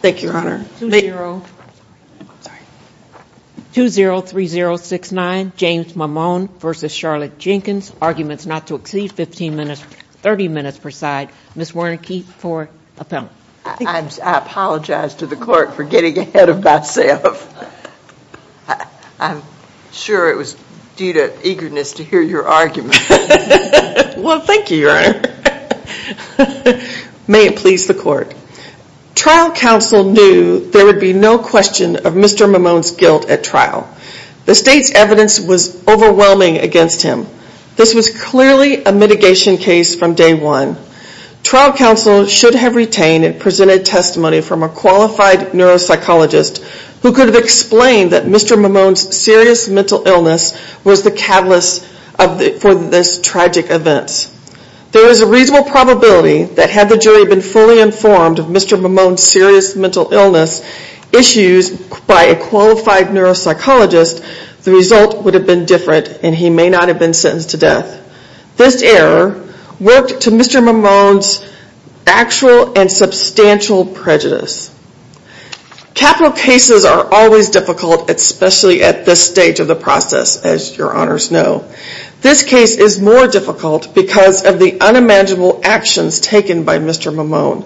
Thank you, Your Honor. 203069, James Mammone v. Charlotte Jenkins. Arguments not to exceed 15 minutes, 30 minutes per side. Ms. Wernicke for appellate. I apologize to the court for getting ahead of myself. I'm sure it was due to eagerness to hear your argument. Well, thank you, Your Honor. May it please the court. Trial counsel knew there would be no question of Mr. Mammone's guilt at trial. The state's evidence was overwhelming against him. This was clearly a mitigation case from day one. Trial counsel should have retained and presented testimony from a qualified neuropsychologist who could have explained that Mr. Mammone's serious mental illness was the catalyst for this tragic event. There is a reasonable probability that had the jury been fully informed of Mr. Mammone's serious mental illness issues by a qualified neuropsychologist, the result would have been different and he may not have been sentenced to death. This error worked to Mr. Mammone's actual and substantial prejudice. Capital cases are always difficult, especially at this stage of the process, as Your Honors know. This case is more difficult because of the unimaginable actions taken by Mr. Mammone.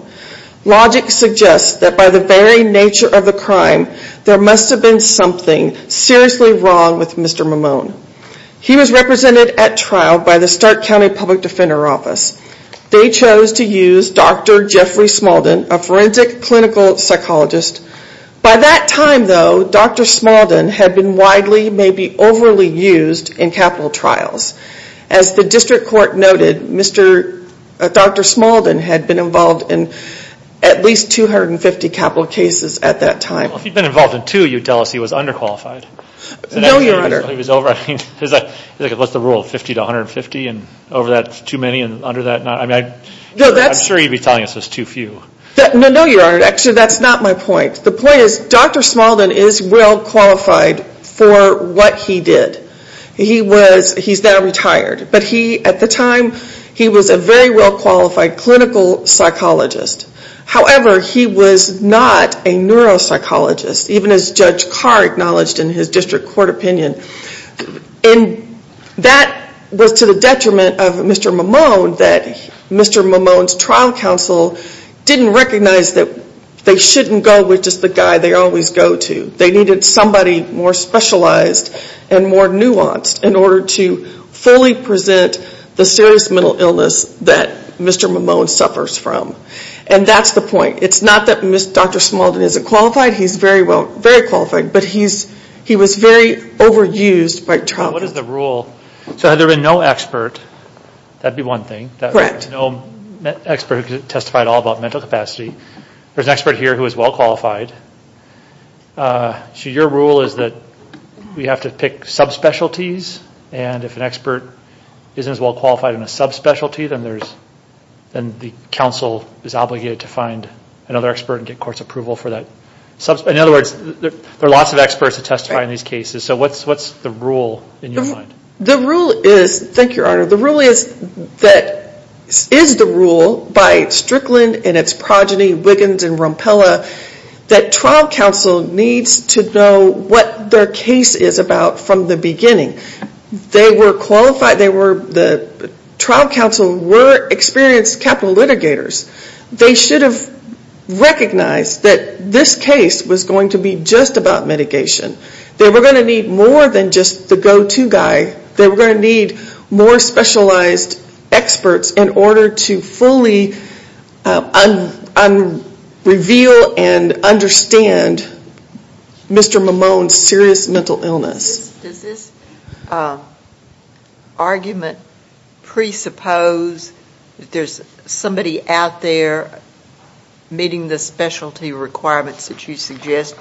Logic suggests that by the very nature of the crime, there must have been something seriously wrong with Mr. Mammone. He was represented at trial by the Stark County Public Defender Office. They chose to use Dr. Jeffrey Smalden, a forensic clinical psychologist. By that time though, Dr. Smalden had been widely, maybe overly used in capital trials. As the district court noted, Dr. Smalden had been involved in at least 250 capital cases at that time. Well, if he had been involved in two, you would tell us he was underqualified. No, Your Honor. I mean, what's the rule, 50 to 150 and over that, too many and under that? I'm sure you would be telling us it was too few. No, Your Honor. Actually, that's not my point. The point is Dr. Smalden is well qualified for what he did. He's now retired. But he, at the time, he was a very well qualified clinical psychologist. However, he was not a neuropsychologist, even as Judge Carr acknowledged in his district court opinion. And that was to the detriment of Mr. Mimone that Mr. Mimone's trial counsel didn't recognize that they shouldn't go with just the guy they always go to. They needed somebody more specialized and more nuanced in order to fully present the serious mental illness that Mr. Mimone suffers from. And that's the point. It's not that Dr. Smalden isn't qualified. He's very qualified, but he was very overused by trial. What is the rule? So had there been no expert, that would be one thing. Correct. No expert who could testify at all about mental capacity. There's an expert here who is well qualified. So your rule is that we have to pick subspecialties, and if an expert isn't as well qualified in a subspecialty, then the counsel is obligated to find another expert and get court's approval for that. In other words, there are lots of experts who testify in these cases. So what's the rule in your mind? Thank you, Your Honor. The rule is that it is the rule by Strickland and its progeny, Wiggins and Rompella, that trial counsel needs to know what their case is about from the beginning. They were qualified. The trial counsel were experienced capital litigators. They should have recognized that this case was going to be just about mitigation. They were going to need more than just the go-to guy. They were going to need more specialized experts in order to fully reveal and understand Mr. Mimone's serious mental illness. Does this argument presuppose that there's somebody out there meeting the specialty requirements that you suggest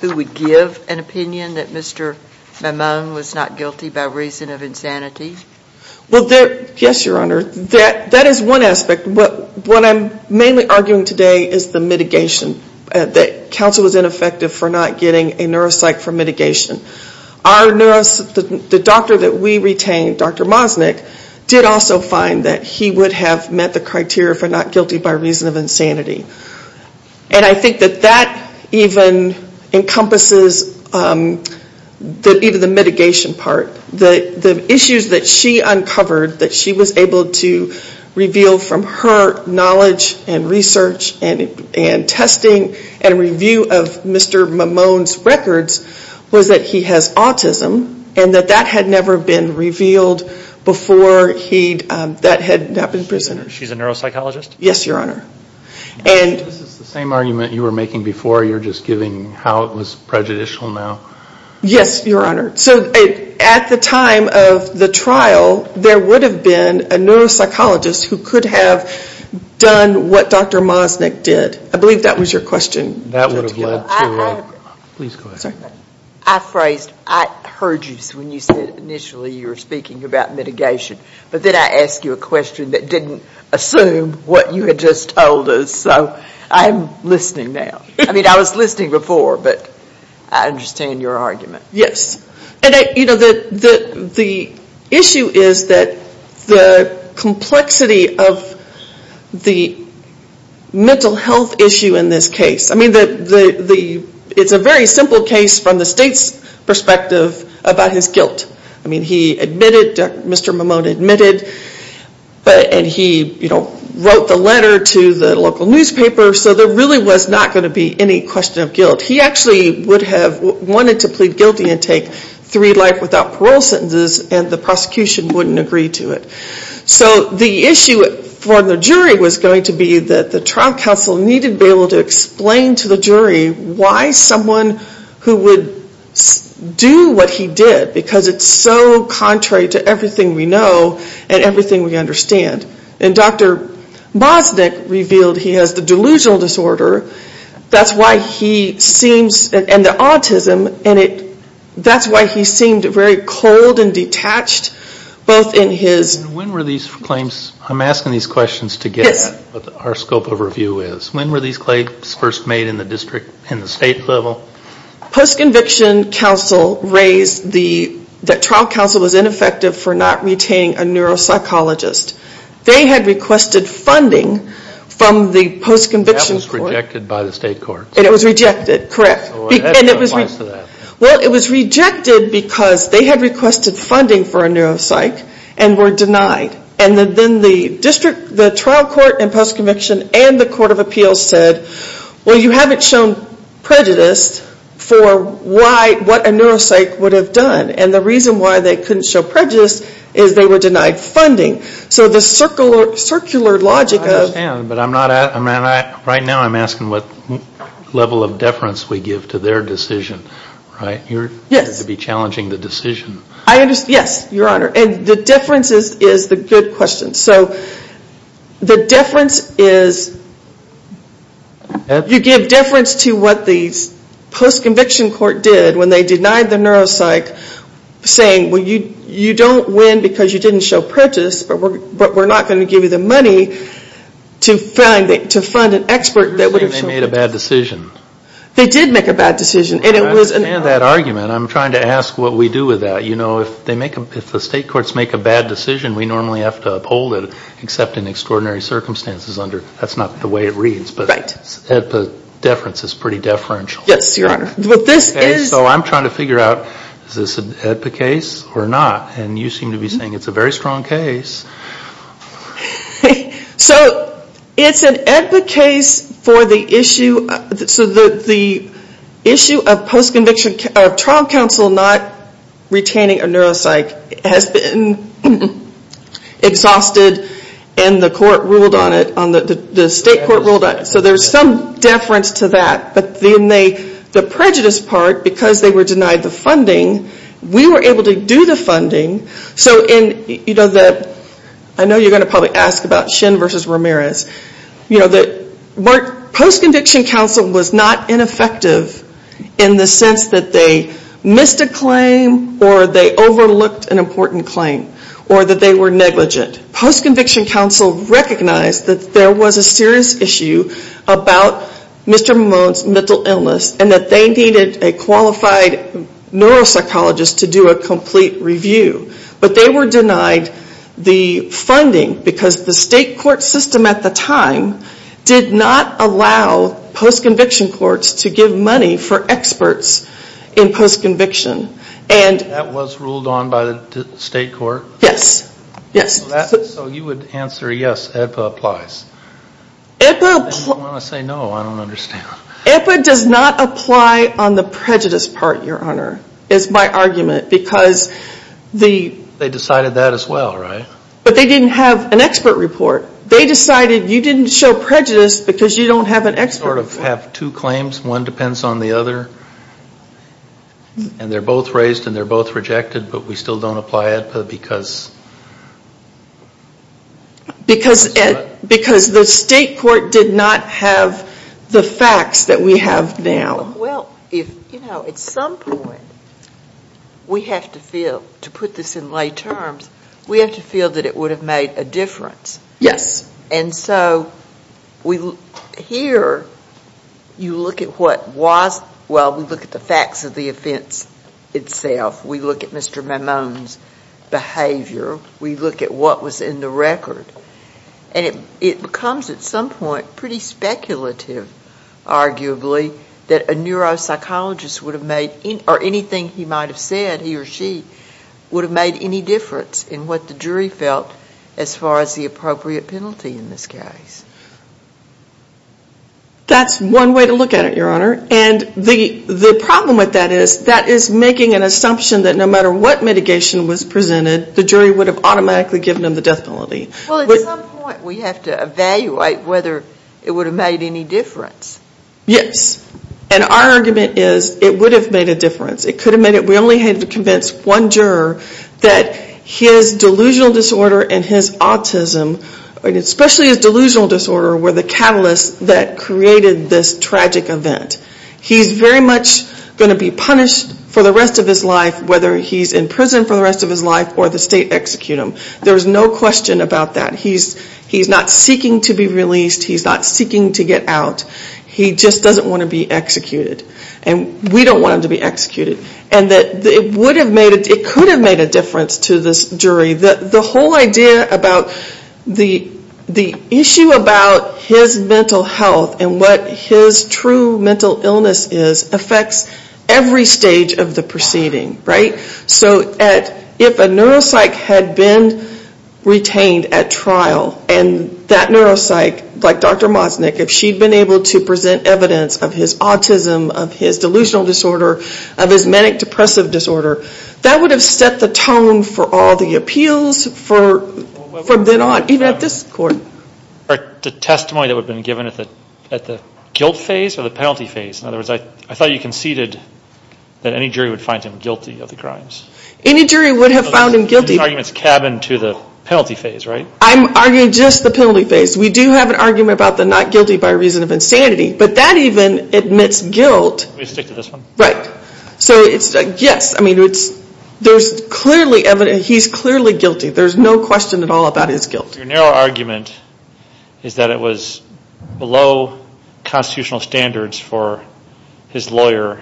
who would give an opinion that Mr. Mimone was not guilty by reason of insanity? Yes, Your Honor. That is one aspect. What I'm mainly arguing today is the mitigation. That counsel was ineffective for not getting a neuropsych for mitigation. The doctor that we retained, Dr. Mosnick, did also find that he would have met the criteria for not guilty by reason of insanity. And I think that that even encompasses even the mitigation part. The issues that she uncovered that she was able to reveal from her knowledge and research and testing and review of Mr. Mimone's records was that he has autism and that that had never been revealed before that had happened. She's a neuropsychologist? Yes, Your Honor. This is the same argument you were making before. You're just giving how it was prejudicial now. Yes, Your Honor. So at the time of the trial, there would have been a neuropsychologist who could have done what Dr. Mosnick did. I believe that was your question. That would have led to a... Please go ahead. I phrased, I heard you when you said initially you were speaking about mitigation. But then I asked you a question that didn't assume what you had just told us. So I'm listening now. I mean, I was listening before, but I understand your argument. Yes. And the issue is that the complexity of the mental health issue in this case. I mean, it's a very simple case from the state's perspective about his guilt. I mean, he admitted, Mr. Mimone admitted, and he wrote the letter to the local newspaper. So there really was not going to be any question of guilt. He actually would have wanted to plead guilty and take three life without parole sentences, and the prosecution wouldn't agree to it. So the issue for the jury was going to be that the trial counsel needed to be able to explain to the jury why someone who would do what he did, because it's so contrary to everything we know and everything we understand. And Dr. Mosnick revealed he has the delusional disorder. That's why he seems, and the autism, and that's why he seemed very cold and detached, both in his. When were these claims, I'm asking these questions to get what our scope of review is. When were these claims first made in the district, in the state level? Post-conviction counsel raised that trial counsel was ineffective for not retaining a neuropsychologist. They had requested funding from the post-conviction court. That was rejected by the state courts. It was rejected, correct. Well, it was rejected because they had requested funding for a neuropsych and were denied. And then the district, the trial court and post-conviction and the court of appeals said, well, you haven't shown prejudice for what a neuropsych would have done. And the reason why they couldn't show prejudice is they were denied funding. So the circular logic of. I understand, but right now I'm asking what level of deference we give to their decision, right? Yes. You're going to be challenging the decision. Yes, Your Honor. And the deference is the good question. So the deference is, you give deference to what the post-conviction court did when they denied the neuropsych, saying, well, you don't win because you didn't show prejudice, but we're not going to give you the money to fund an expert that would have shown prejudice. You're saying they made a bad decision. They did make a bad decision. I understand that argument. I'm trying to ask what we do with that. If the state courts make a bad decision, we normally have to uphold it, except in extraordinary circumstances. That's not the way it reads. Right. But the deference is pretty deferential. Yes, Your Honor. So I'm trying to figure out, is this an AEDPA case or not? And you seem to be saying it's a very strong case. So it's an AEDPA case for the issue of trial counsel not retaining a neuropsych. It has been exhausted, and the court ruled on it. The state court ruled on it. So there's some deference to that. But then the prejudice part, because they were denied the funding, we were able to do the funding. I know you're going to probably ask about Shin v. Ramirez. Post-conviction counsel was not ineffective in the sense that they missed a claim or they overlooked an important claim or that they were negligent. Post-conviction counsel recognized that there was a serious issue about Mr. They qualified neuropsychologists to do a complete review. But they were denied the funding because the state court system at the time did not allow post-conviction courts to give money for experts in post-conviction. That was ruled on by the state court? Yes. So you would answer yes, AEDPA applies. If you want to say no, I don't understand. AEDPA does not apply on the prejudice part, Your Honor, is my argument, because the They decided that as well, right? But they didn't have an expert report. They decided you didn't show prejudice because you don't have an expert report. You sort of have two claims. One depends on the other, and they're both raised and they're both rejected, but we still don't apply AEDPA because Because the state court did not have the facts that we have now. Well, you know, at some point we have to feel, to put this in lay terms, we have to feel that it would have made a difference. Yes. And so here you look at what was, well, we look at the facts of the offense itself. We look at Mr. Mamone's behavior. We look at what was in the record. And it becomes at some point pretty speculative, arguably, that a neuropsychologist would have made, or anything he might have said, he or she, would have made any difference in what the jury felt as far as the appropriate penalty in this case. That's one way to look at it, Your Honor. And the problem with that is that is making an assumption that no matter what mitigation was presented, the jury would have automatically given him the death penalty. Well, at some point we have to evaluate whether it would have made any difference. Yes. And our argument is it would have made a difference. It could have made a difference. We only had to convince one juror that his delusional disorder and his autism, especially his delusional disorder, were the catalysts that created this tragic event. He's very much going to be punished for the rest of his life, whether he's in prison for the rest of his life or the state execute him. There's no question about that. He's not seeking to be released. He's not seeking to get out. He just doesn't want to be executed. And we don't want him to be executed. And it could have made a difference to this jury. The whole idea about the issue about his mental health and what his true mental illness is affects every stage of the proceeding, right? So if a neuropsych had been retained at trial, and that neuropsych, like Dr. Mosnick, if she'd been able to present evidence of his autism, of his delusional disorder, of his manic depressive disorder, that would have set the tone for all the appeals from then on, even at this court. The testimony that would have been given at the guilt phase or the penalty phase? In other words, I thought you conceded that any jury would find him guilty of the crimes. Any jury would have found him guilty. The argument is cabin to the penalty phase, right? I'm arguing just the penalty phase. We do have an argument about the not guilty by reason of insanity, but that even admits guilt. Can we stick to this one? Right. Yes. There's clearly evidence. He's clearly guilty. There's no question at all about his guilt. Your narrow argument is that it was below constitutional standards for his lawyer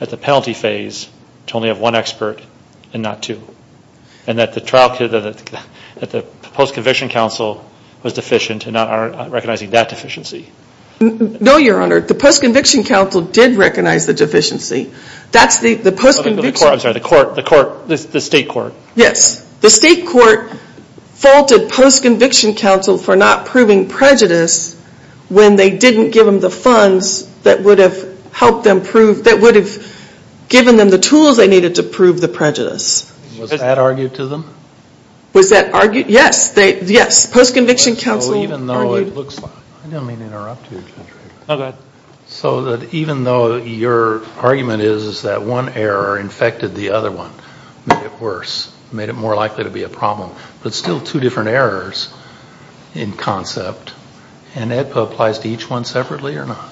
at the penalty phase to only have one expert and not two, and that the post-conviction counsel was deficient and not recognizing that deficiency. No, Your Honor. The post-conviction counsel did recognize the deficiency. That's the post-conviction. I'm sorry. The court, the state court. Yes. The state court faulted post-conviction counsel for not proving prejudice when they didn't give them the funds that would have helped them prove, that would have given them the tools they needed to prove the prejudice. Was that argued to them? Was that argued? Yes. Yes. Post-conviction counsel argued. I didn't mean to interrupt you. No, go ahead. So that even though your argument is that one error infected the other one, made it worse, made it more likely to be a problem, but still two different errors in concept, and AEDPA applies to each one separately or not?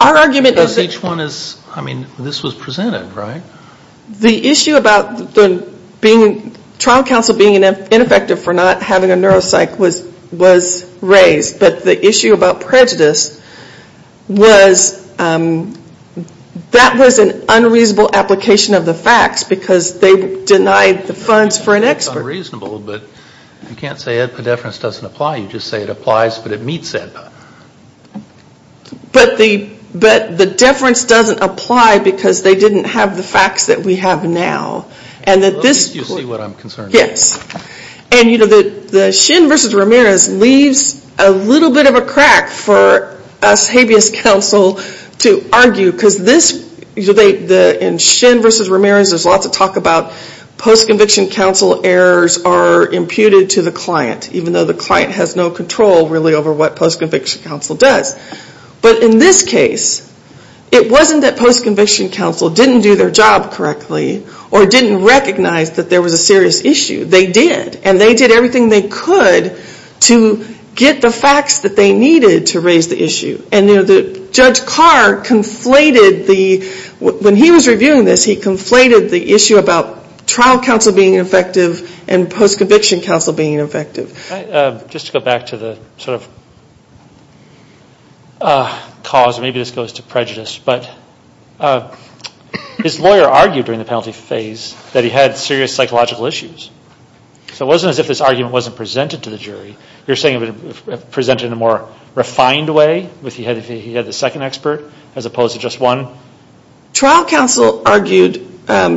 Our argument is that. Because each one is, I mean, this was presented, right? The issue about the trial counsel being ineffective for not having a neuropsych was raised, but the issue about prejudice was that was an unreasonable application of the facts because they denied the funds for an expert. It's unreasonable, but you can't say AEDPA deference doesn't apply. You just say it applies, but it meets AEDPA. But the deference doesn't apply because they didn't have the facts that we have now. At least you see what I'm concerned about. Yes. And the Shin v. Ramirez leaves a little bit of a crack for us habeas counsel to argue because in Shin v. Ramirez there's lots of talk about post-conviction counsel errors are imputed to the client, even though the client has no control really over what post-conviction counsel does. But in this case, it wasn't that post-conviction counsel didn't do their job correctly or didn't recognize that there was a serious issue. They did, and they did everything they could to get the facts that they needed to raise the issue. And, you know, Judge Carr conflated the – when he was reviewing this, he conflated the issue about trial counsel being ineffective and post-conviction counsel being ineffective. Just to go back to the sort of cause, maybe this goes to prejudice, but his lawyer argued during the penalty phase that he had serious psychological issues. So it wasn't as if this argument wasn't presented to the jury. You're saying it was presented in a more refined way if he had the second expert as opposed to just one? Trial counsel argued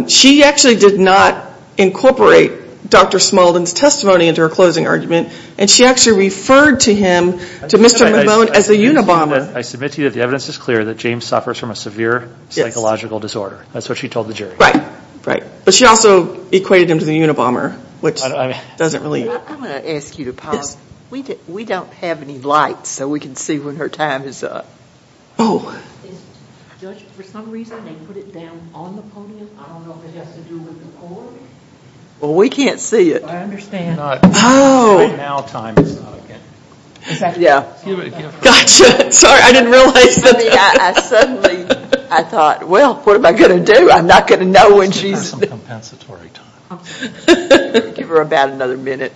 she actually did not incorporate Dr. Smuldin's testimony into her closing argument, and she actually referred to him, to Mr. McMone, as a unabomber. I submit to you that the evidence is clear that James suffers from a severe psychological disorder. That's what she told the jury. Right, right. But she also equated him to the unabomber, which doesn't really – I'm going to ask you to pause. Yes. We don't have any lights, so we can see when her time is up. Oh. Judge, for some reason, they put it down on the podium. I don't know if it has to do with the court. Well, we can't see it. I understand. Oh. Right now time is not okay. Yeah. Gotcha. Sorry, I didn't realize that. I mean, I suddenly – I thought, well, what am I going to do? I'm not going to know when she's – She's going to have some compensatory time. Give her about another minute.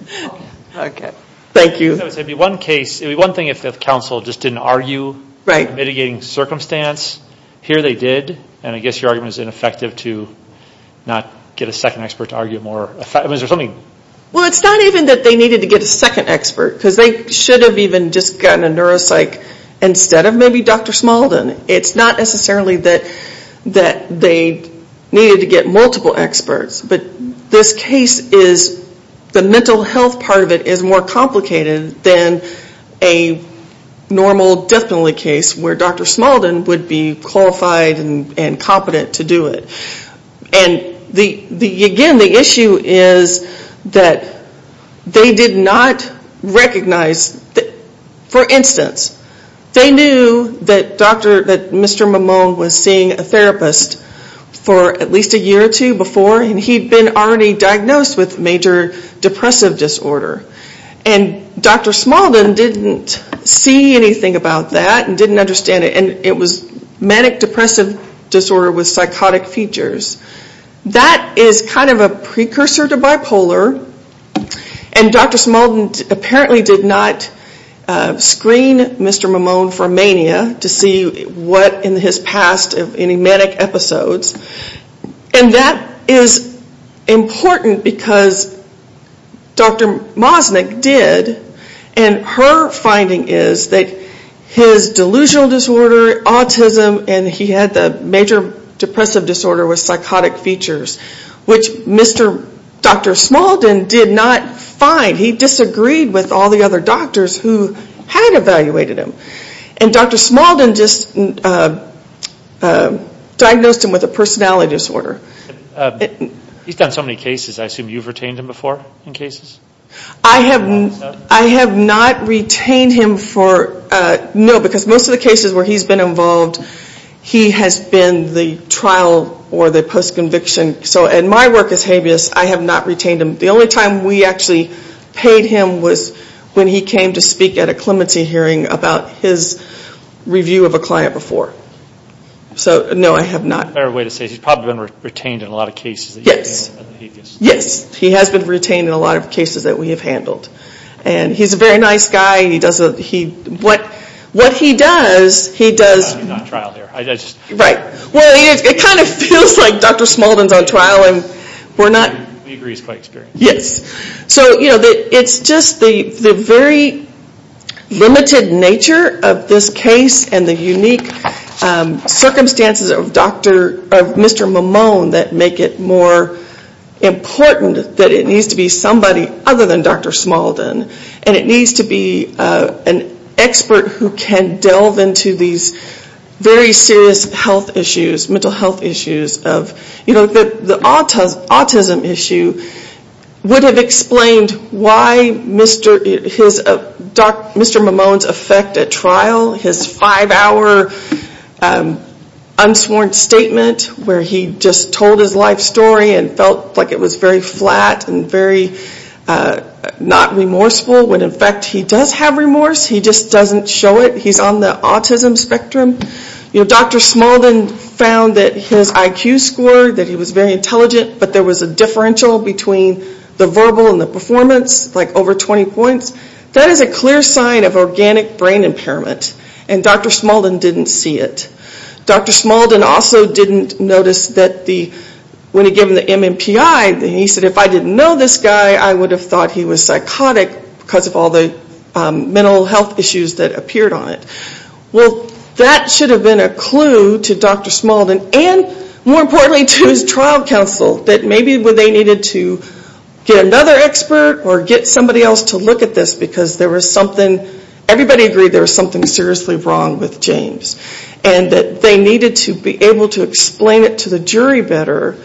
Okay. Thank you. One thing if the counsel just didn't argue mitigating circumstance, here they did, and I guess your argument is ineffective to not get a second expert to argue it more – I mean, is there something – Well, it's not even that they needed to get a second expert because they should have even just gotten a neuropsych instead of maybe Dr. Smaldin. It's not necessarily that they needed to get multiple experts, but this case is – the mental health part of it is more complicated than a normal death penalty case where Dr. Smaldin would be qualified and competent to do it. And, again, the issue is that they did not recognize – for instance, they knew that Dr. – that Mr. Mimone was seeing a therapist for at least a year or two before, and he'd been already diagnosed with major depressive disorder. And Dr. Smaldin didn't see anything about that and didn't understand it, and it was manic depressive disorder with psychotic features. That is kind of a precursor to bipolar, and Dr. Smaldin apparently did not screen Mr. Mimone for mania to see what in his past of any manic episodes. And that is important because Dr. Mosnick did, and her finding is that his delusional disorder, autism, and he had the major depressive disorder with psychotic features, which Dr. Smaldin did not find. He disagreed with all the other doctors who had evaluated him, and Dr. Smaldin just diagnosed him with a personality disorder. He's done so many cases. I assume you've retained him before in cases? I have not retained him for, no, because most of the cases where he's been involved, he has been the trial or the post-conviction. So in my work as habeas, I have not retained him. The only time we actually paid him was when he came to speak at a clemency hearing about his review of a client before. So, no, I have not. A fair way to say he's probably been retained in a lot of cases. Yes. He has been retained in a lot of cases that we have handled. And he's a very nice guy. What he does, he does. I'm not on trial here. Right. Well, it kind of feels like Dr. Smaldin's on trial, and we're not. We agree he's quite experienced. Yes. So, you know, it's just the very limited nature of this case and the unique circumstances of Mr. Mimone that make it more important that it needs to be somebody other than Dr. Smaldin. And it needs to be an expert who can delve into these very serious health issues, mental health issues of, you know, the autism issue would have explained why Mr. Mimone's effect at trial, his five-hour unsworn statement where he just told his life story and felt like it was very flat and very not remorseful, when, in fact, he does have remorse. He just doesn't show it. He's on the autism spectrum. You know, Dr. Smaldin found that his IQ score, that he was very intelligent, but there was a differential between the verbal and the performance, like over 20 points. That is a clear sign of organic brain impairment, and Dr. Smaldin didn't see it. Dr. Smaldin also didn't notice that when he gave him the MMPI, he said, if I didn't know this guy, I would have thought he was psychotic because of all the mental health issues that appeared on it. Well, that should have been a clue to Dr. Smaldin and, more importantly, to his trial counsel that maybe they needed to get another expert or get somebody else to look at this because there was something. Everybody agreed there was something seriously wrong with James and that they needed to be able to explain it to the jury better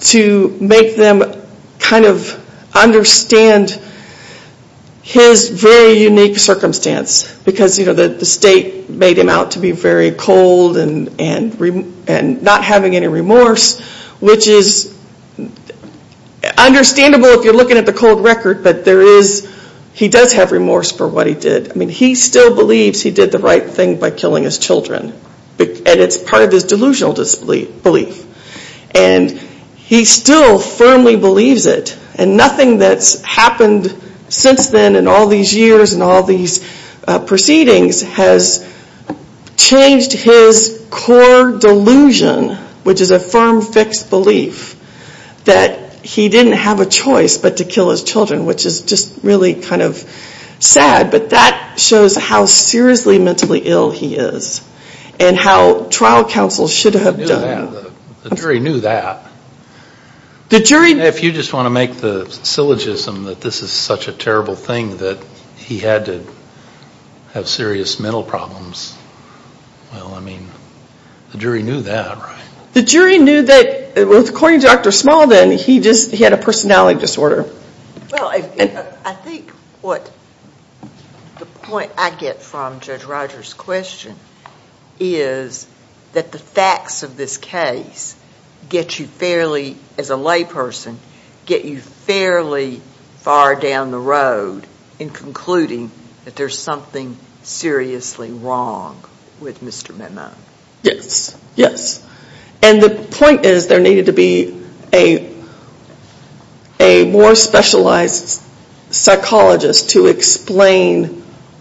to make them kind of understand his very unique circumstance because the state made him out to be very cold and not having any remorse, which is understandable if you're looking at the cold record, but he does have remorse for what he did. He still believes he did the right thing by killing his children, and it's part of his delusional disbelief. He still firmly believes it, and nothing that's happened since then in all these years and all these proceedings has changed his core delusion, which is a firm, fixed belief that he didn't have a choice but to kill his children, which is just really kind of sad, but that shows how seriously mentally ill he is and how trial counsel should have done. The jury knew that. If you just want to make the syllogism that this is such a terrible thing that he had to have serious mental problems, well, I mean, the jury knew that, right? The jury knew that. According to Dr. Small, then, he had a personality disorder. Well, I think what the point I get from Judge Rogers' question is that the facts of this case get you fairly, as a layperson, get you fairly far down the road in concluding that there's something seriously wrong with Mr. Mennon. Yes. Yes. And the point is there needed to be a more specialized psychologist to explain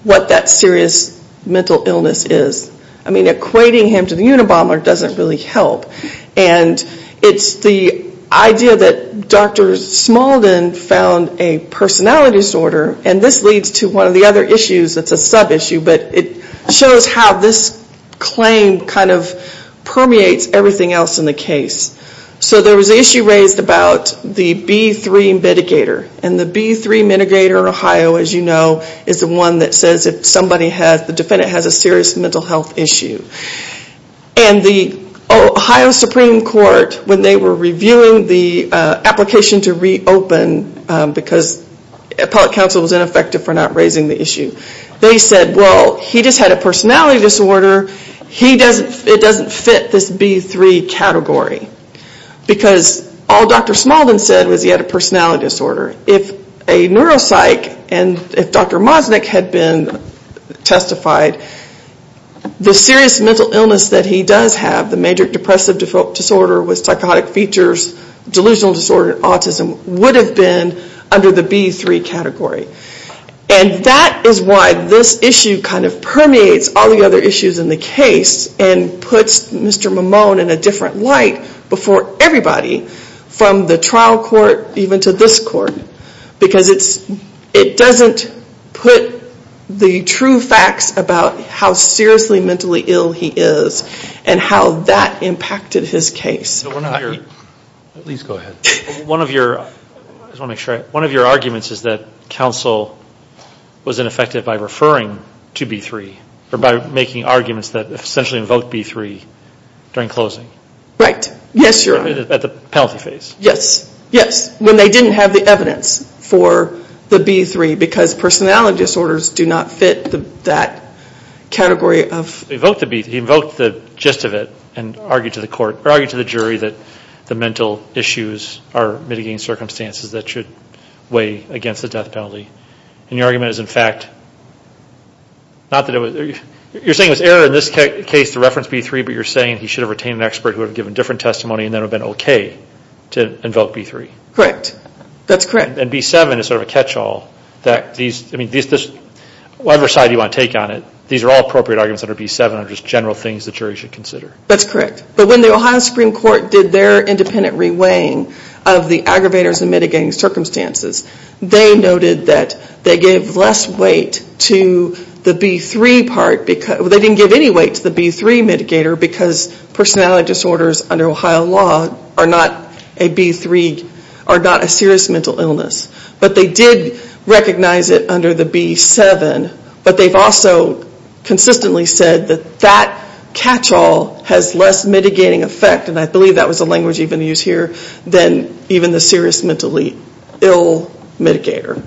what that serious mental illness is. I mean, equating him to the Unabomber doesn't really help, and it's the idea that Dr. Small, then, found a personality disorder, and this leads to one of the other issues that's a sub-issue, but it shows how this claim kind of permeates everything else in the case. So there was an issue raised about the B3 mitigator, and the B3 mitigator in Ohio, as you know, is the one that says if somebody has, the defendant has a serious mental health issue. And the Ohio Supreme Court, when they were reviewing the application to reopen, because appellate counsel was ineffective for not raising the issue, they said, well, he just had a personality disorder, it doesn't fit this B3 category, because all Dr. Small, then, said was he had a personality disorder. If a neuropsych, and if Dr. Mosnick had been testified, the serious mental illness that he does have, the major depressive disorder with psychotic features, delusional disorder, autism, would have been under the B3 category. And that is why this issue kind of permeates all the other issues in the case and puts Mr. Mimone in a different light before everybody, from the trial court, even to this court, because it doesn't put the true facts about how seriously mentally ill he is and how that impacted his case. At least go ahead. One of your arguments is that counsel was ineffective by referring to B3, or by making arguments that essentially invoked B3 during closing. Right. Yes, Your Honor. At the penalty phase. Yes, yes, when they didn't have the evidence for the B3, because personality disorders do not fit that category of... He invoked the gist of it and argued to the jury that the mental issues are mitigating circumstances that should weigh against the death penalty. And your argument is, in fact... You're saying it was error in this case to reference B3, but you're saying he should have retained an expert who had given different testimony and then it would have been okay to invoke B3. Correct. That's correct. And B7 is sort of a catch-all. I mean, whatever side you want to take on it, these are all appropriate arguments under B7 are just general things the jury should consider. That's correct. But when the Ohio Supreme Court did their independent re-weighing of the aggravators and mitigating circumstances, they noted that they gave less weight to the B3 part... They didn't give any weight to the B3 mitigator because personality disorders under Ohio law are not a serious mental illness. But they did recognize it under the B7. But they've also consistently said that that catch-all has less mitigating effect, and I believe that was the language even used here, than even the serious mentally ill mitigator.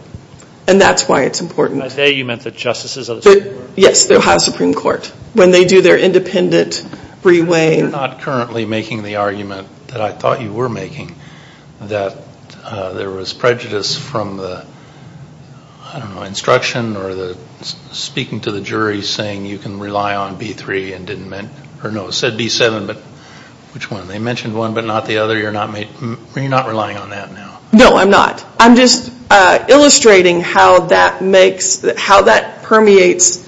And that's why it's important. By they, you meant the justices of the Supreme Court? Yes, the Ohio Supreme Court. When they do their independent re-weighing... You're not currently making the argument that I thought you were making, that there was prejudice from the, I don't know, instruction or the speaking to the jury saying you can rely on B3 and didn't mention... Or no, it said B7, but which one? They mentioned one but not the other. You're not relying on that now? No, I'm not. I'm just illustrating how that permeates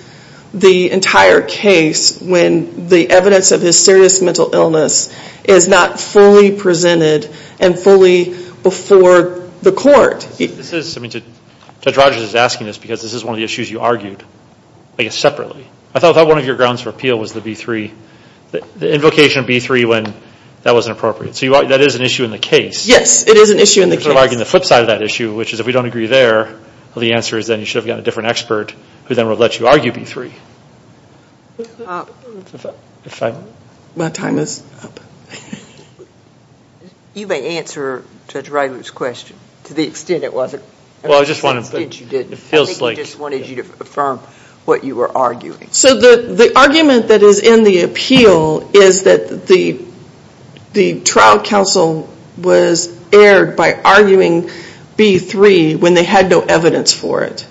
the entire case when the evidence of his serious mental illness is not fully presented and fully before the court. Judge Rogers is asking this because this is one of the issues you argued separately. I thought one of your grounds for appeal was the B3, the invocation of B3 when that wasn't appropriate. So that is an issue in the case. Yes, it is an issue in the case. You're sort of arguing the flip side of that issue, which is if we don't agree there, the answer is then you should have gotten a different expert who then would have let you argue B3. My time is up. You may answer Judge Ryder's question to the extent it wasn't... Well, I just wanted... ...to the extent you didn't. It feels like... I think he just wanted you to affirm what you were arguing. So the argument that is in the appeal is that the trial counsel was aired by arguing B3 when they had no evidence for it.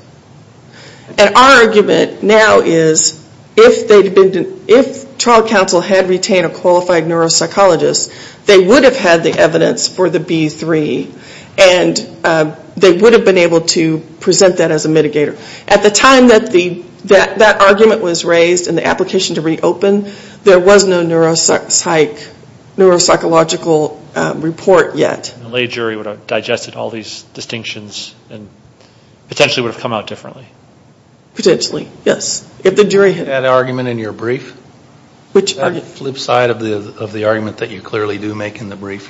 And our argument now is if trial counsel had retained a qualified neuropsychologist, they would have had the evidence for the B3 and they would have been able to present that as a mitigator. At the time that that argument was raised and the application to reopen, there was no neuropsychological report yet. The lay jury would have digested all these distinctions and potentially would have come out differently. Potentially, yes. If the jury had... That argument in your brief? Which argument? The flip side of the argument that you clearly do make in the brief,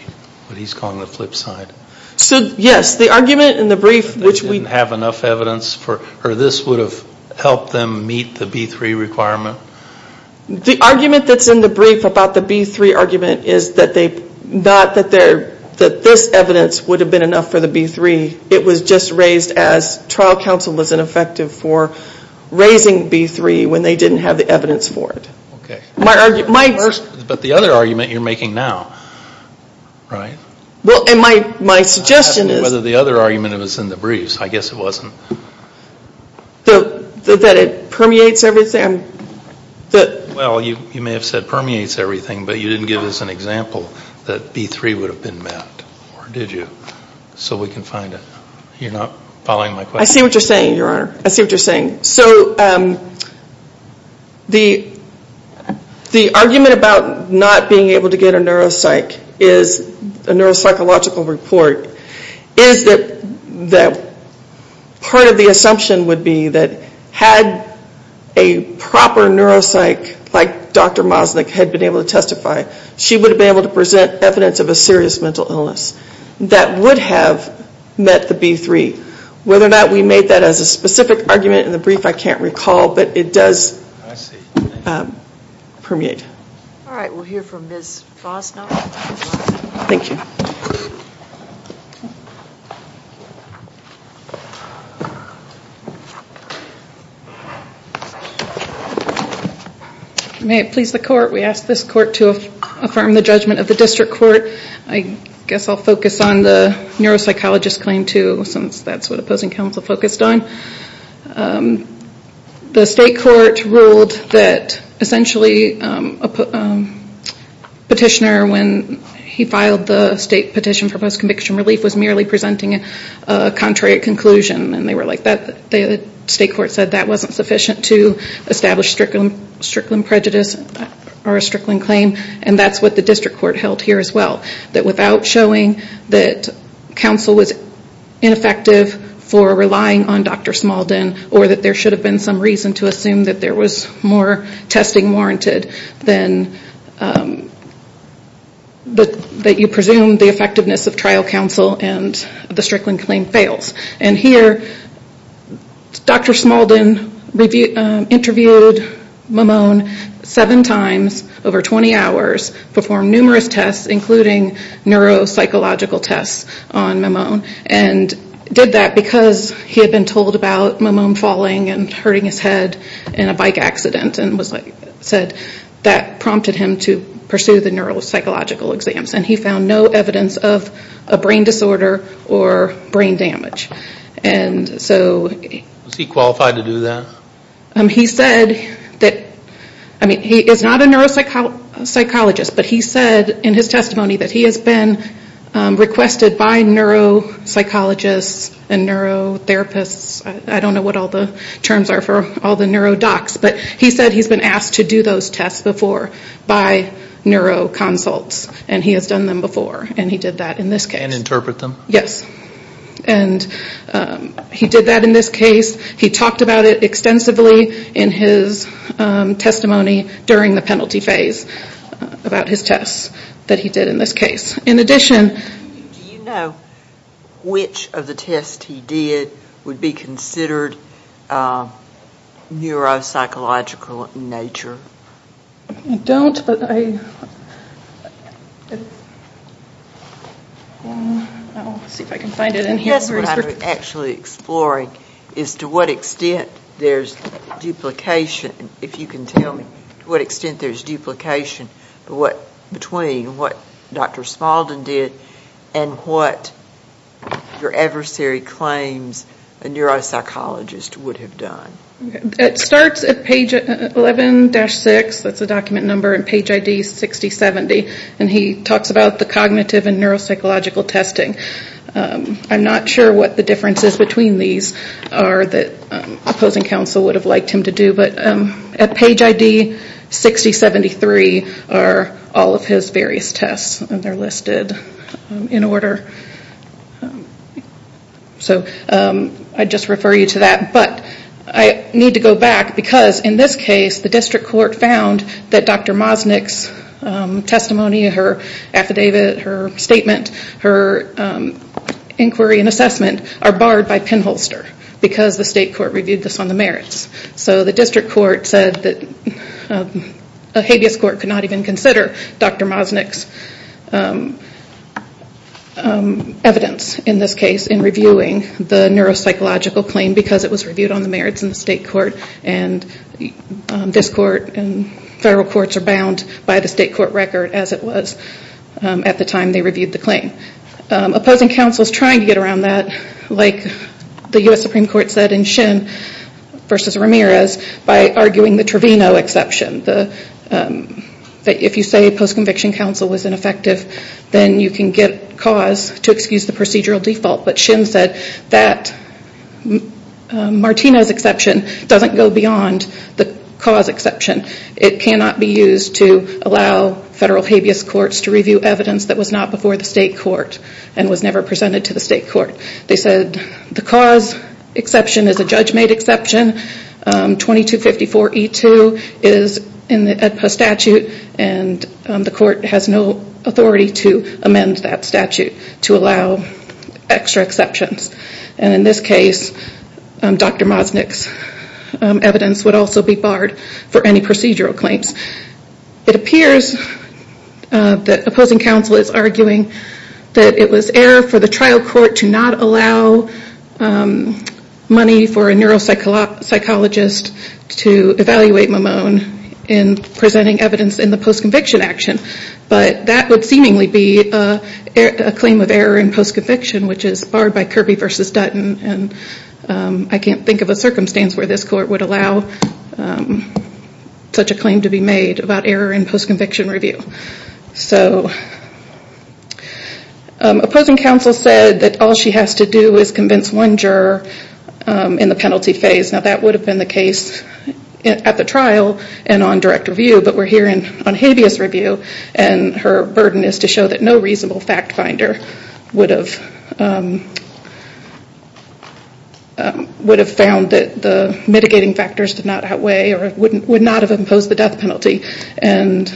what he's calling the flip side. So, yes, the argument in the brief which we... They didn't have enough evidence for... The argument that's in the brief about the B3 argument is not that this evidence would have been enough for the B3. It was just raised as trial counsel was ineffective for raising B3 when they didn't have the evidence for it. Okay. But the other argument you're making now, right? Well, my suggestion is... I'm not sure whether the other argument was in the brief. I guess it wasn't. That it permeates everything? Well, you may have said permeates everything, but you didn't give us an example that B3 would have been mapped. Or did you? So we can find it. You're not following my question? I see what you're saying, Your Honor. I see what you're saying. So the argument about not being able to get a neuropsych is a neuropsychological report is that part of the assumption would be that had a proper neuropsych like Dr. Mosnick had been able to testify, she would have been able to present evidence of a serious mental illness that would have met the B3. Whether or not we made that as a specific argument in the brief, I can't recall, but it does permeate. All right. We'll hear from Ms. Fosnow. Thank you. May it please the Court, we ask this Court to affirm the judgment of the District Court. I guess I'll focus on the neuropsychologist claim, too, since that's what opposing counsel focused on. The State Court ruled that essentially a petitioner, when he filed the State Petition for Post-Conviction Relief, was merely presenting a contrary conclusion. The State Court said that wasn't sufficient to establish a Strickland prejudice or a Strickland claim, and that's what the District Court held here as well, that without showing that counsel was ineffective for relying on Dr. Smaldon, or that there should have been some reason to assume that there was more testing warranted than that you presume the effectiveness of trial counsel and the Strickland claim fails. And here, Dr. Smaldon interviewed Mimone seven times over 20 hours, performed numerous tests, including neuropsychological tests on Mimone, and did that because he had been told about Mimone falling and hurting his head in a bike accident, and said that prompted him to pursue the neuropsychological exams. And he found no evidence of a brain disorder or brain damage. And so... Was he qualified to do that? He said that, I mean, he is not a neuropsychologist, but he said in his testimony that he has been requested by neuropsychologists and neurotherapists. I don't know what all the terms are for all the neurodocs, but he said he's been asked to do those tests before by neuroconsults, and he has done them before, and he did that in this case. And interpret them? Yes. And he did that in this case. He talked about it extensively in his testimony during the penalty phase about his tests that he did in this case. In addition... Do you know which of the tests he did would be considered neuropsychological in nature? I don't, but I... I'll see if I can find it in here. What I'm actually exploring is to what extent there's duplication, if you can tell me to what extent there's duplication between what Dr. Spaulding did and what your adversary claims a neuropsychologist would have done. It starts at page 11-6, that's the document number, and page ID 6070, and he talks about the cognitive and neuropsychological testing. I'm not sure what the differences between these are that opposing counsel would have liked him to do, but at page ID 6073 are all of his various tests, and they're listed in order. So I just refer you to that. But I need to go back because in this case the district court found that Dr. Mosnick's testimony, her affidavit, her statement, her inquiry and assessment are barred by pinholster because the state court reviewed this on the merits. So the district court said that a habeas court could not even consider Dr. Mosnick's evidence in this case in reviewing the neuropsychological claim because it was reviewed on the merits in the state court, and this court and federal courts are bound by the state court record as it was at the time they reviewed the claim. Opposing counsel is trying to get around that, like the U.S. Supreme Court said in Shin v. Ramirez by arguing the Trevino exception. If you say post-conviction counsel was ineffective, then you can get cause to excuse the procedural default. But Shin said that Martino's exception doesn't go beyond the cause exception. It cannot be used to allow federal habeas courts to review evidence that was not before the state court and was never presented to the state court. They said the cause exception is a judge-made exception. 2254E2 is in the AEDPA statute, and the court has no authority to amend that statute to allow extra exceptions. And in this case, Dr. Mosnick's evidence would also be barred for any procedural claims. It appears that opposing counsel is arguing that it was error for the trial court to not allow money for a neuropsychologist to evaluate Mamone in presenting evidence in the post-conviction action. But that would seemingly be a claim of error in post-conviction, which is barred by Kirby v. Dutton. I can't think of a circumstance where this court would allow such a claim to be made about error in post-conviction review. So opposing counsel said that all she has to do is convince one juror in the penalty phase. Now that would have been the case at the trial and on direct review, but we're here on habeas review, and her burden is to show that no reasonable fact finder would have found that the mitigating factors did not outweigh or would not have imposed the death penalty. And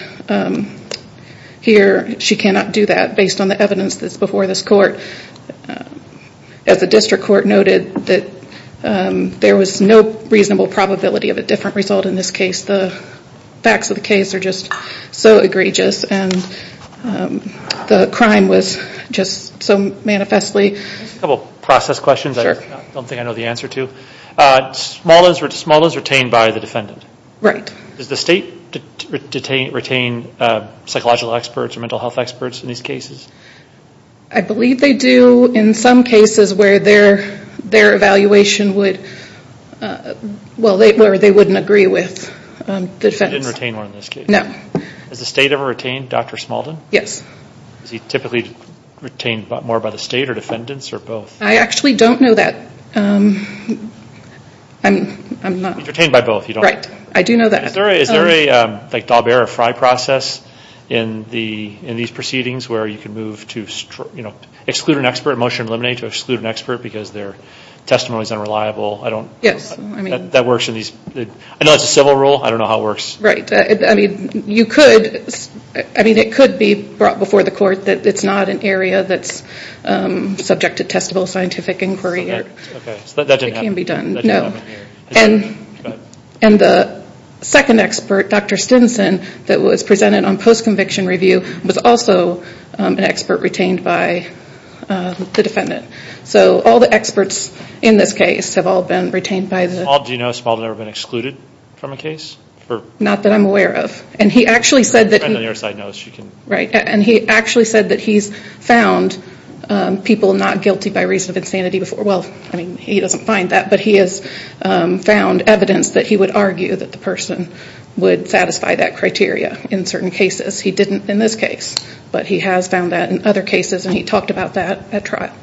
here she cannot do that based on the evidence that's before this court. As the district court noted, there was no reasonable probability of a different result in this case. The facts of the case are just so egregious, and the crime was just so manifestly... I have a couple of process questions I don't think I know the answer to. Smalldon is retained by the defendant? Right. Does the state retain psychological experts or mental health experts in these cases? I believe they do in some cases where their evaluation would... where they wouldn't agree with the defense. They didn't retain one in this case? No. Has the state ever retained Dr. Smalldon? Yes. Is he typically retained more by the state or defendants or both? I actually don't know that. I'm not... Retained by both, you don't... Right. I do know that. Is there a Dalbert or Fry process in these proceedings where you can move to exclude an expert, a motion to eliminate to exclude an expert because their testimony is unreliable? Yes. I know it's a civil rule. I don't know how it works. Right. I mean you could... I mean it could be brought before the court that it's not an area that's subject to testable scientific inquiry. Okay. So that didn't happen? It can be done. That didn't happen here? No. And the second expert, Dr. Stinson, that was presented on post-conviction review, was also an expert retained by the defendant. So all the experts in this case have all been retained by the... Do you know Small had never been excluded from a case? Not that I'm aware of. And he actually said that he... Your friend on your side knows. She can... Right. And he actually said that he's found people not guilty by reason of insanity before. Well, I mean he doesn't find that, but he has found evidence that he would argue that the person would satisfy that criteria in certain cases. He didn't in this case, but he has found that in other cases, and he talked about that at trial.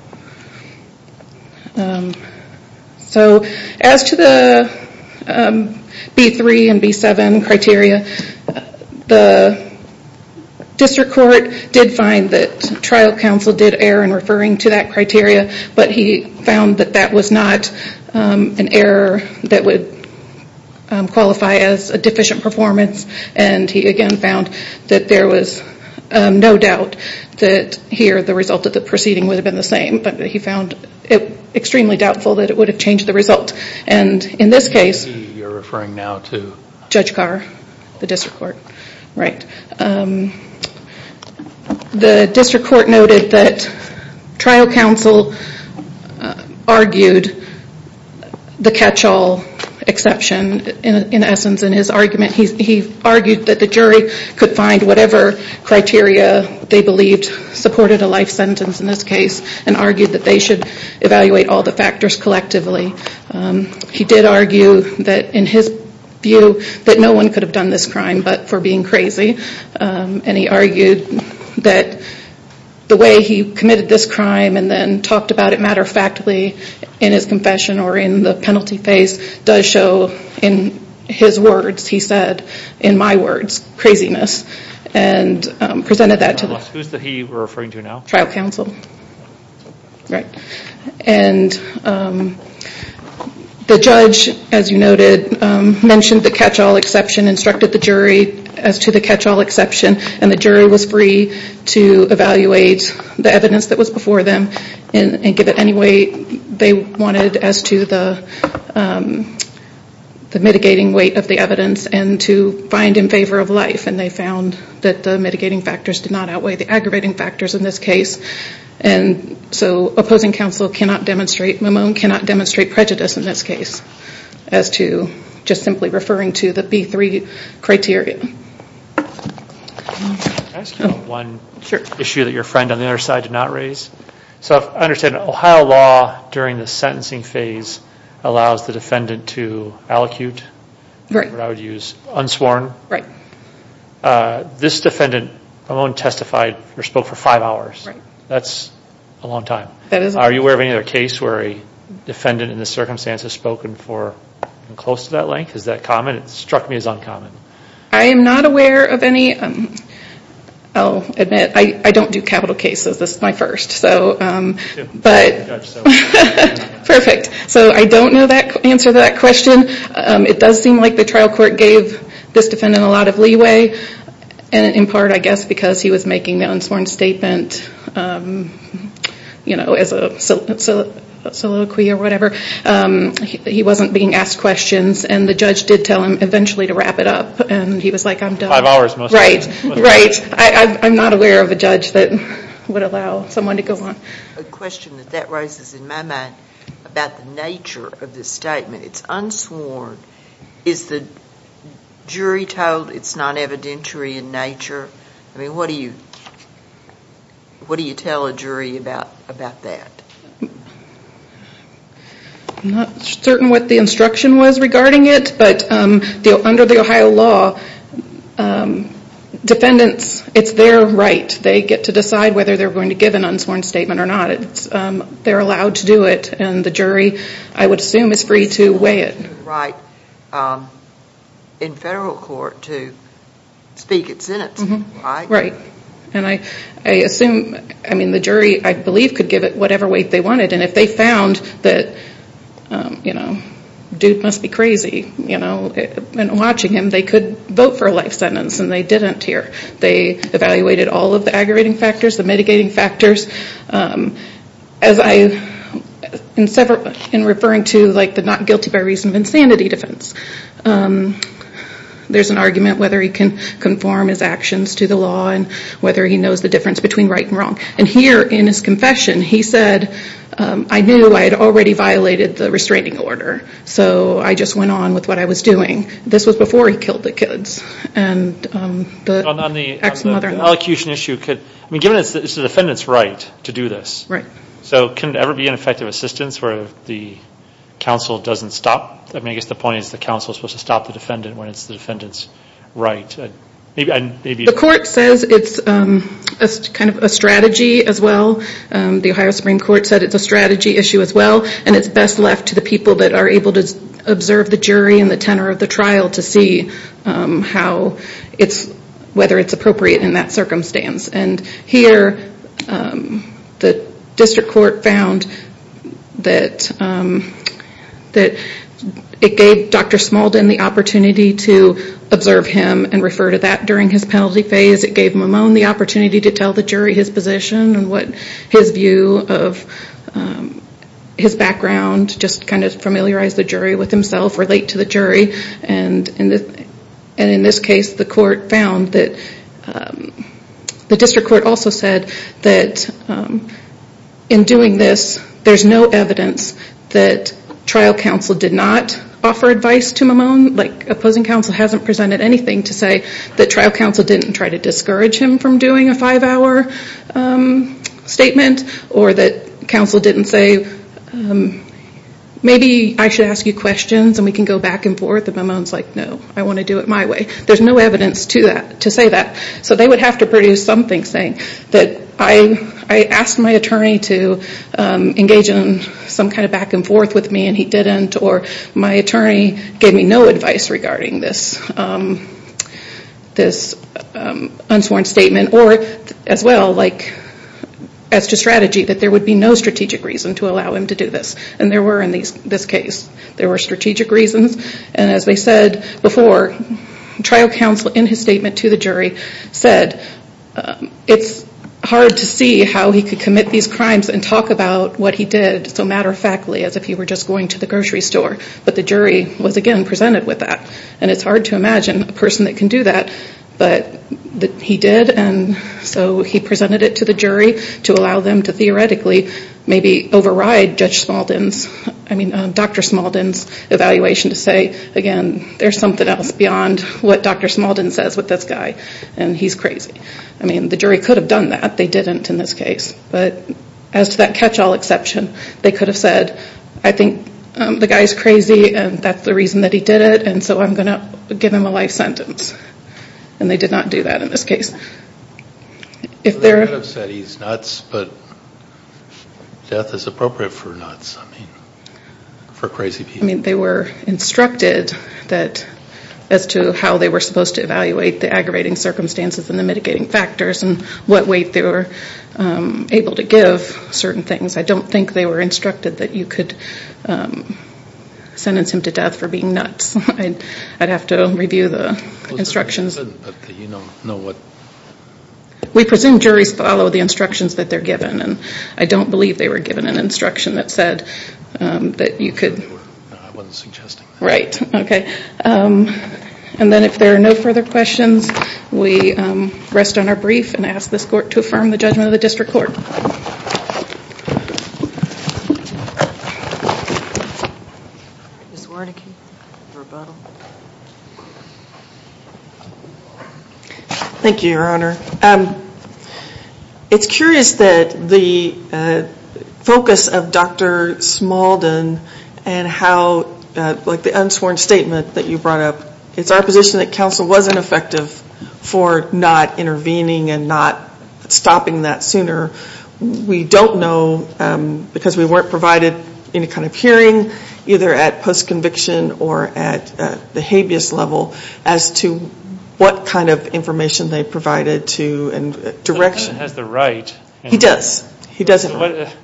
So as to the B3 and B7 criteria, the district court did find that trial counsel did err in referring to that criteria, but he found that that was not an error that would qualify as a deficient performance, and he again found that there was no doubt that here the result of the proceeding would have been the same, but he found it extremely doubtful that it would have changed the result. And in this case... You're referring now to? Judge Carr, the district court. Right. The district court noted that trial counsel argued the catch-all exception in essence in his argument. He argued that the jury could find whatever criteria they believed supported a life sentence in this case and argued that they should evaluate all the factors collectively. He did argue that in his view that no one could have done this crime but for being crazy, and he argued that the way he committed this crime and then talked about it matter-of-factly in his confession or in the penalty phase does show in his words, he said, in my words, craziness, and presented that to the... Who is he referring to now? Trial counsel. Right. And the judge, as you noted, mentioned the catch-all exception, instructed the jury as to the catch-all exception, and the jury was free to evaluate the evidence that was before them and give it any weight they wanted as to the mitigating weight of the evidence and to find in favor of life, and they found that the mitigating factors did not outweigh the aggravating factors in this case. And so opposing counsel cannot demonstrate, Mimone cannot demonstrate prejudice in this case as to just simply referring to the B3 criteria. Can I ask you one issue that your friend on the other side did not raise? So I understand Ohio law during the sentencing phase allows the defendant to allocute, what I would use, unsworn. Right. This defendant, Mimone testified or spoke for five hours. That's a long time. That is a long time. Are you aware of any other case where a defendant in this circumstance has spoken for close to that length? Is that common? It struck me as uncommon. I am not aware of any. I'll admit, I don't do capital cases. This is my first. Perfect. So I don't know the answer to that question. It does seem like the trial court gave this defendant a lot of leeway, in part I guess because he was making the unsworn statement as a soliloquy or whatever. He wasn't being asked questions and the judge did tell him eventually to wrap it up and he was like, I'm done. Five hours most of the time. Right, right. I'm not aware of a judge that would allow someone to go on. A question that that raises in my mind about the nature of this statement. It's unsworn. Is the jury told it's not evidentiary in nature? I mean, what do you tell a jury about that? I'm not certain what the instruction was regarding it, but under the Ohio law, defendants, it's their right. They get to decide whether they're going to give an unsworn statement or not. They're allowed to do it and the jury, I would assume, is free to weigh it. Right. In federal court to speak at sentencing, right? Right. And I assume, I mean the jury I believe could give it whatever weight they wanted and if they found that dude must be crazy and watching him, they could vote for a life sentence and they didn't here. They evaluated all of the aggravating factors, the mitigating factors. As I, in referring to the not guilty by reason of insanity defense, there's an argument whether he can conform his actions to the law and whether he knows the difference between right and wrong. And here in his confession, he said, I knew I had already violated the restraining order, so I just went on with what I was doing. This was before he killed the kids and the ex-mother-in-law. On the elocution issue, given it's the defendant's right to do this. Right. So can it ever be an effective assistance where the counsel doesn't stop? I mean, I guess the point is the counsel is supposed to stop the defendant when it's the defendant's right. The court says it's kind of a strategy as well. The Ohio Supreme Court said it's a strategy issue as well and it's best left to the people that are able to observe the jury and the tenor of the trial to see how it's, whether it's appropriate in that circumstance. And here, the district court found that it gave Dr. Smalden the opportunity to observe him and refer to that during his penalty phase. It gave Mimone the opportunity to tell the jury his position and what his view of his background, just kind of familiarize the jury with himself, relate to the jury. And in this case, the court found that, the district court also said that in doing this, the opposing counsel hasn't presented anything to say that trial counsel didn't try to discourage him from doing a five-hour statement or that counsel didn't say, maybe I should ask you questions and we can go back and forth. And Mimone's like, no, I want to do it my way. There's no evidence to say that. So they would have to produce something saying that I asked my attorney to engage in some kind of back and forth with me and he didn't or my attorney gave me no advice regarding this unsworn statement. Or as well, like, as to strategy, that there would be no strategic reason to allow him to do this. And there were in this case, there were strategic reasons. And as I said before, trial counsel, in his statement to the jury, said it's hard to see how he could commit these crimes and talk about what he did so matter-of-factly as if he were just going to the grocery store. But the jury was, again, presented with that. And it's hard to imagine a person that can do that. But he did and so he presented it to the jury to allow them to theoretically maybe override Judge Smaldon's, I mean, Dr. Smaldon's evaluation to say, again, there's something else beyond what Dr. Smaldon says with this guy and he's crazy. I mean, the jury could have done that. They didn't in this case. But as to that catch-all exception, they could have said, I think the guy's crazy and that's the reason that he did it and so I'm going to give him a life sentence. And they did not do that in this case. They could have said he's nuts, but death is appropriate for nuts. I mean, for crazy people. I mean, they were instructed as to how they were supposed to evaluate the aggravating circumstances and the mitigating factors and what weight they were able to give certain things. I don't think they were instructed that you could sentence him to death for being nuts. I'd have to review the instructions. But you don't know what? We presume juries follow the instructions that they're given. I don't believe they were given an instruction that said that you could. I wasn't suggesting that. Right, okay. And then if there are no further questions, we rest on our brief and ask this court to affirm the judgment of the district court. Ms. Wernicke for rebuttal. Thank you, Your Honor. It's curious that the focus of Dr. Smalden and how, like the unsworn statement that you brought up, it's our position that counsel wasn't effective for not intervening and not stopping that sooner. We don't know because we weren't provided any kind of hearing, either at post-conviction or at the habeas level, as to what kind of information they provided to and direction. The defendant has the right. He does. He does have the right.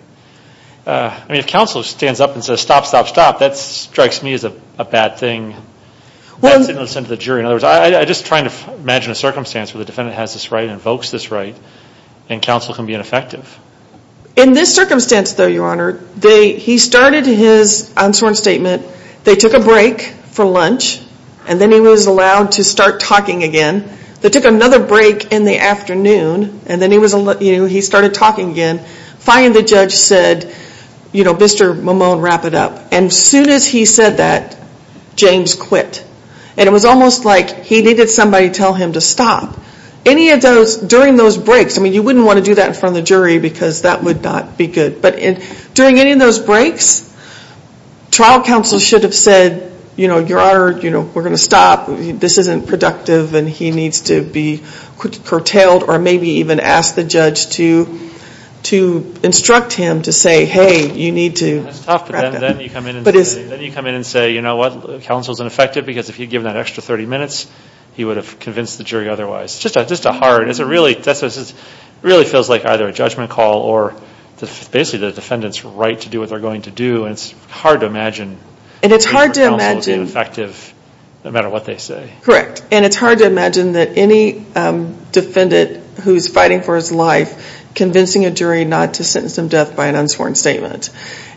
I mean, if counsel stands up and says, stop, stop, stop, that strikes me as a bad thing. That's innocent of the jury. In other words, I'm just trying to imagine a circumstance where the defendant has this right and invokes this right and counsel can be ineffective. In this circumstance, though, Your Honor, he started his unsworn statement. They took a break for lunch, and then he was allowed to start talking again. They took another break in the afternoon, and then he started talking again, and finally the judge said, you know, Mr. Mimone, wrap it up. And soon as he said that, James quit. And it was almost like he needed somebody to tell him to stop. Any of those, during those breaks, I mean, you wouldn't want to do that in front of the jury because that would not be good. But during any of those breaks, trial counsel should have said, you know, Your Honor, you know, we're going to stop. This isn't productive, and he needs to be curtailed or maybe even ask the judge to instruct him to say, hey, you need to wrap it up. That's tough, but then you come in and say, you know what, counsel's ineffective because if you'd given that extra 30 minutes, he would have convinced the jury otherwise. Just a hard, it really feels like either a judgment call or basically the defendant's right to do what they're going to do, and it's hard to imagine. And it's hard to imagine. Counsel would be ineffective no matter what they say. Correct. And it's hard to imagine that any defendant who's fighting for his life convincing a jury not to sentence him to death by an unsworn statement.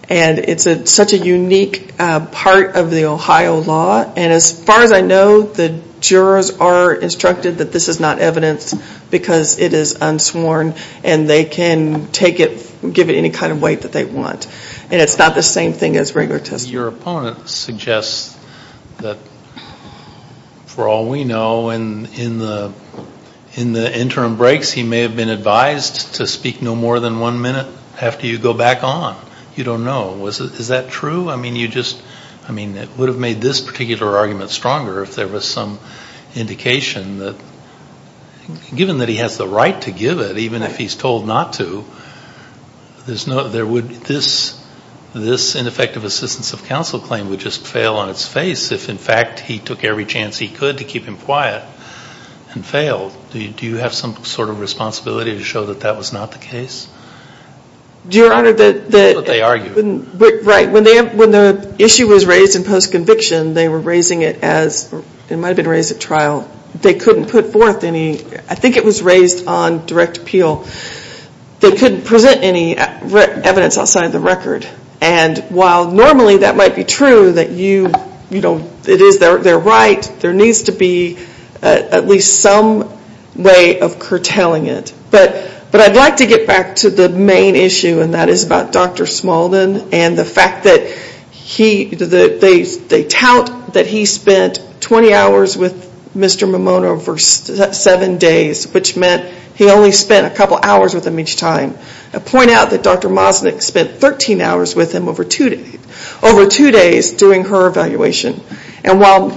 And it's such a unique part of the Ohio law, and as far as I know, the jurors are instructed that this is not evidence because it is unsworn, and they can take it, give it any kind of weight that they want. And it's not the same thing as regular testimony. Your opponent suggests that, for all we know, in the interim breaks he may have been advised to speak no more than one minute after you go back on. You don't know. Is that true? I mean, it would have made this particular argument stronger if there was some indication that, given that he has the right to give it even if he's told not to, this ineffective assistance of counsel claim would just fail on its face if, in fact, he took every chance he could to keep him quiet and failed. Do you have some sort of responsibility to show that that was not the case? That's what they argue. Right. When the issue was raised in post-conviction, they were raising it as it might have been raised at trial. They couldn't put forth any. I think it was raised on direct appeal. They couldn't present any evidence outside of the record. And while normally that might be true that you, you know, it is their right, there needs to be at least some way of curtailing it. But I'd like to get back to the main issue, and that is about Dr. Smaldon and the fact that they tout that he spent 20 hours with Mr. Mimono for seven days, which meant he only spent a couple hours with him each time. They point out that Dr. Mosnick spent 13 hours with him over two days doing her evaluation. And while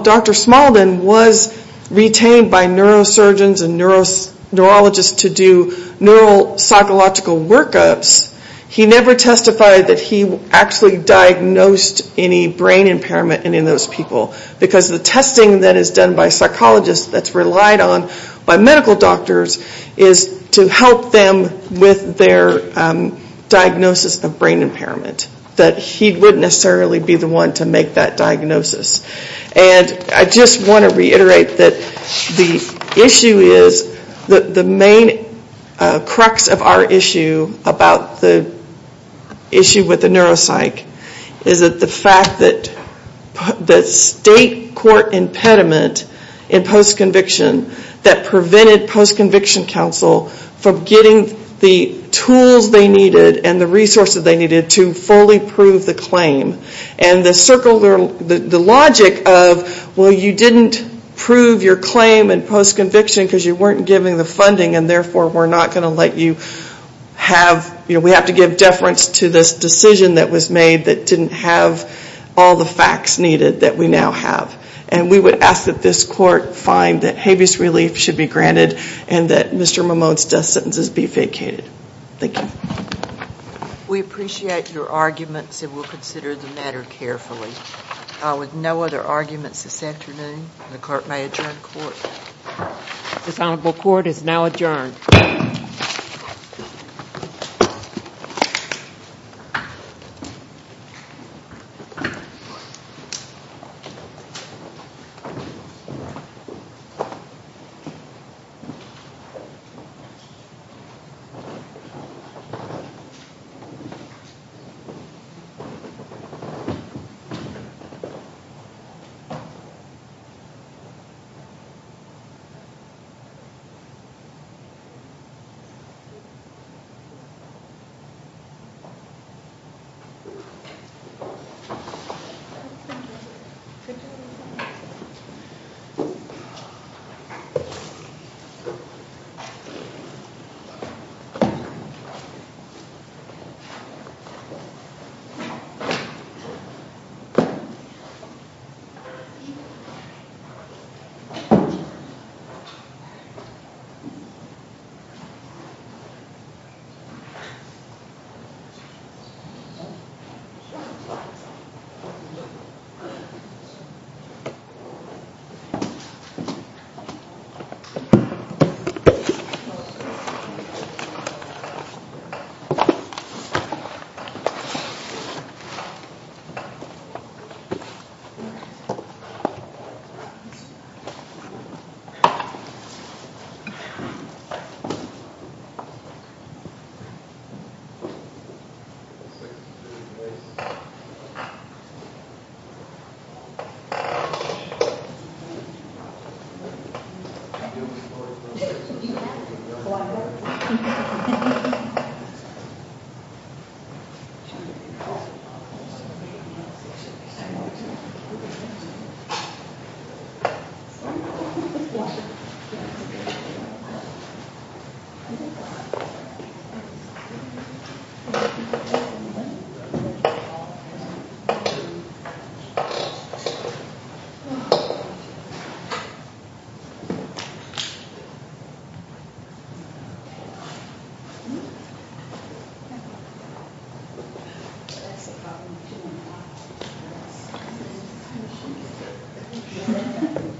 Dr. Smaldon was retained by neurosurgeons and neurologists to do neuropsychological workups, he never testified that he actually diagnosed any brain impairment in any of those people because the testing that is done by psychologists that's relied on by medical doctors is to help them with their diagnosis of brain impairment, that he wouldn't necessarily be the one to make that diagnosis. And I just want to reiterate that the issue is, the main crux of our issue about the issue with the neuropsych is that the fact that the state court impediment in post-conviction that prevented post-conviction counsel from getting the tools they needed and the resources they needed to fully prove the claim. And the logic of, well, you didn't prove your claim in post-conviction because you weren't given the funding and therefore we're not going to let you have, we have to give deference to this decision that was made that didn't have all the facts needed that we now have. And we would ask that this court find that habeas relief should be granted and that Mr. Mahmoud's death sentences be vacated. Thank you. We appreciate your arguments and we'll consider the matter carefully. With no other arguments this afternoon, the court may adjourn court. This honorable court is now adjourned. Thank you. Thank you. Thank you. Thank you. Thank you.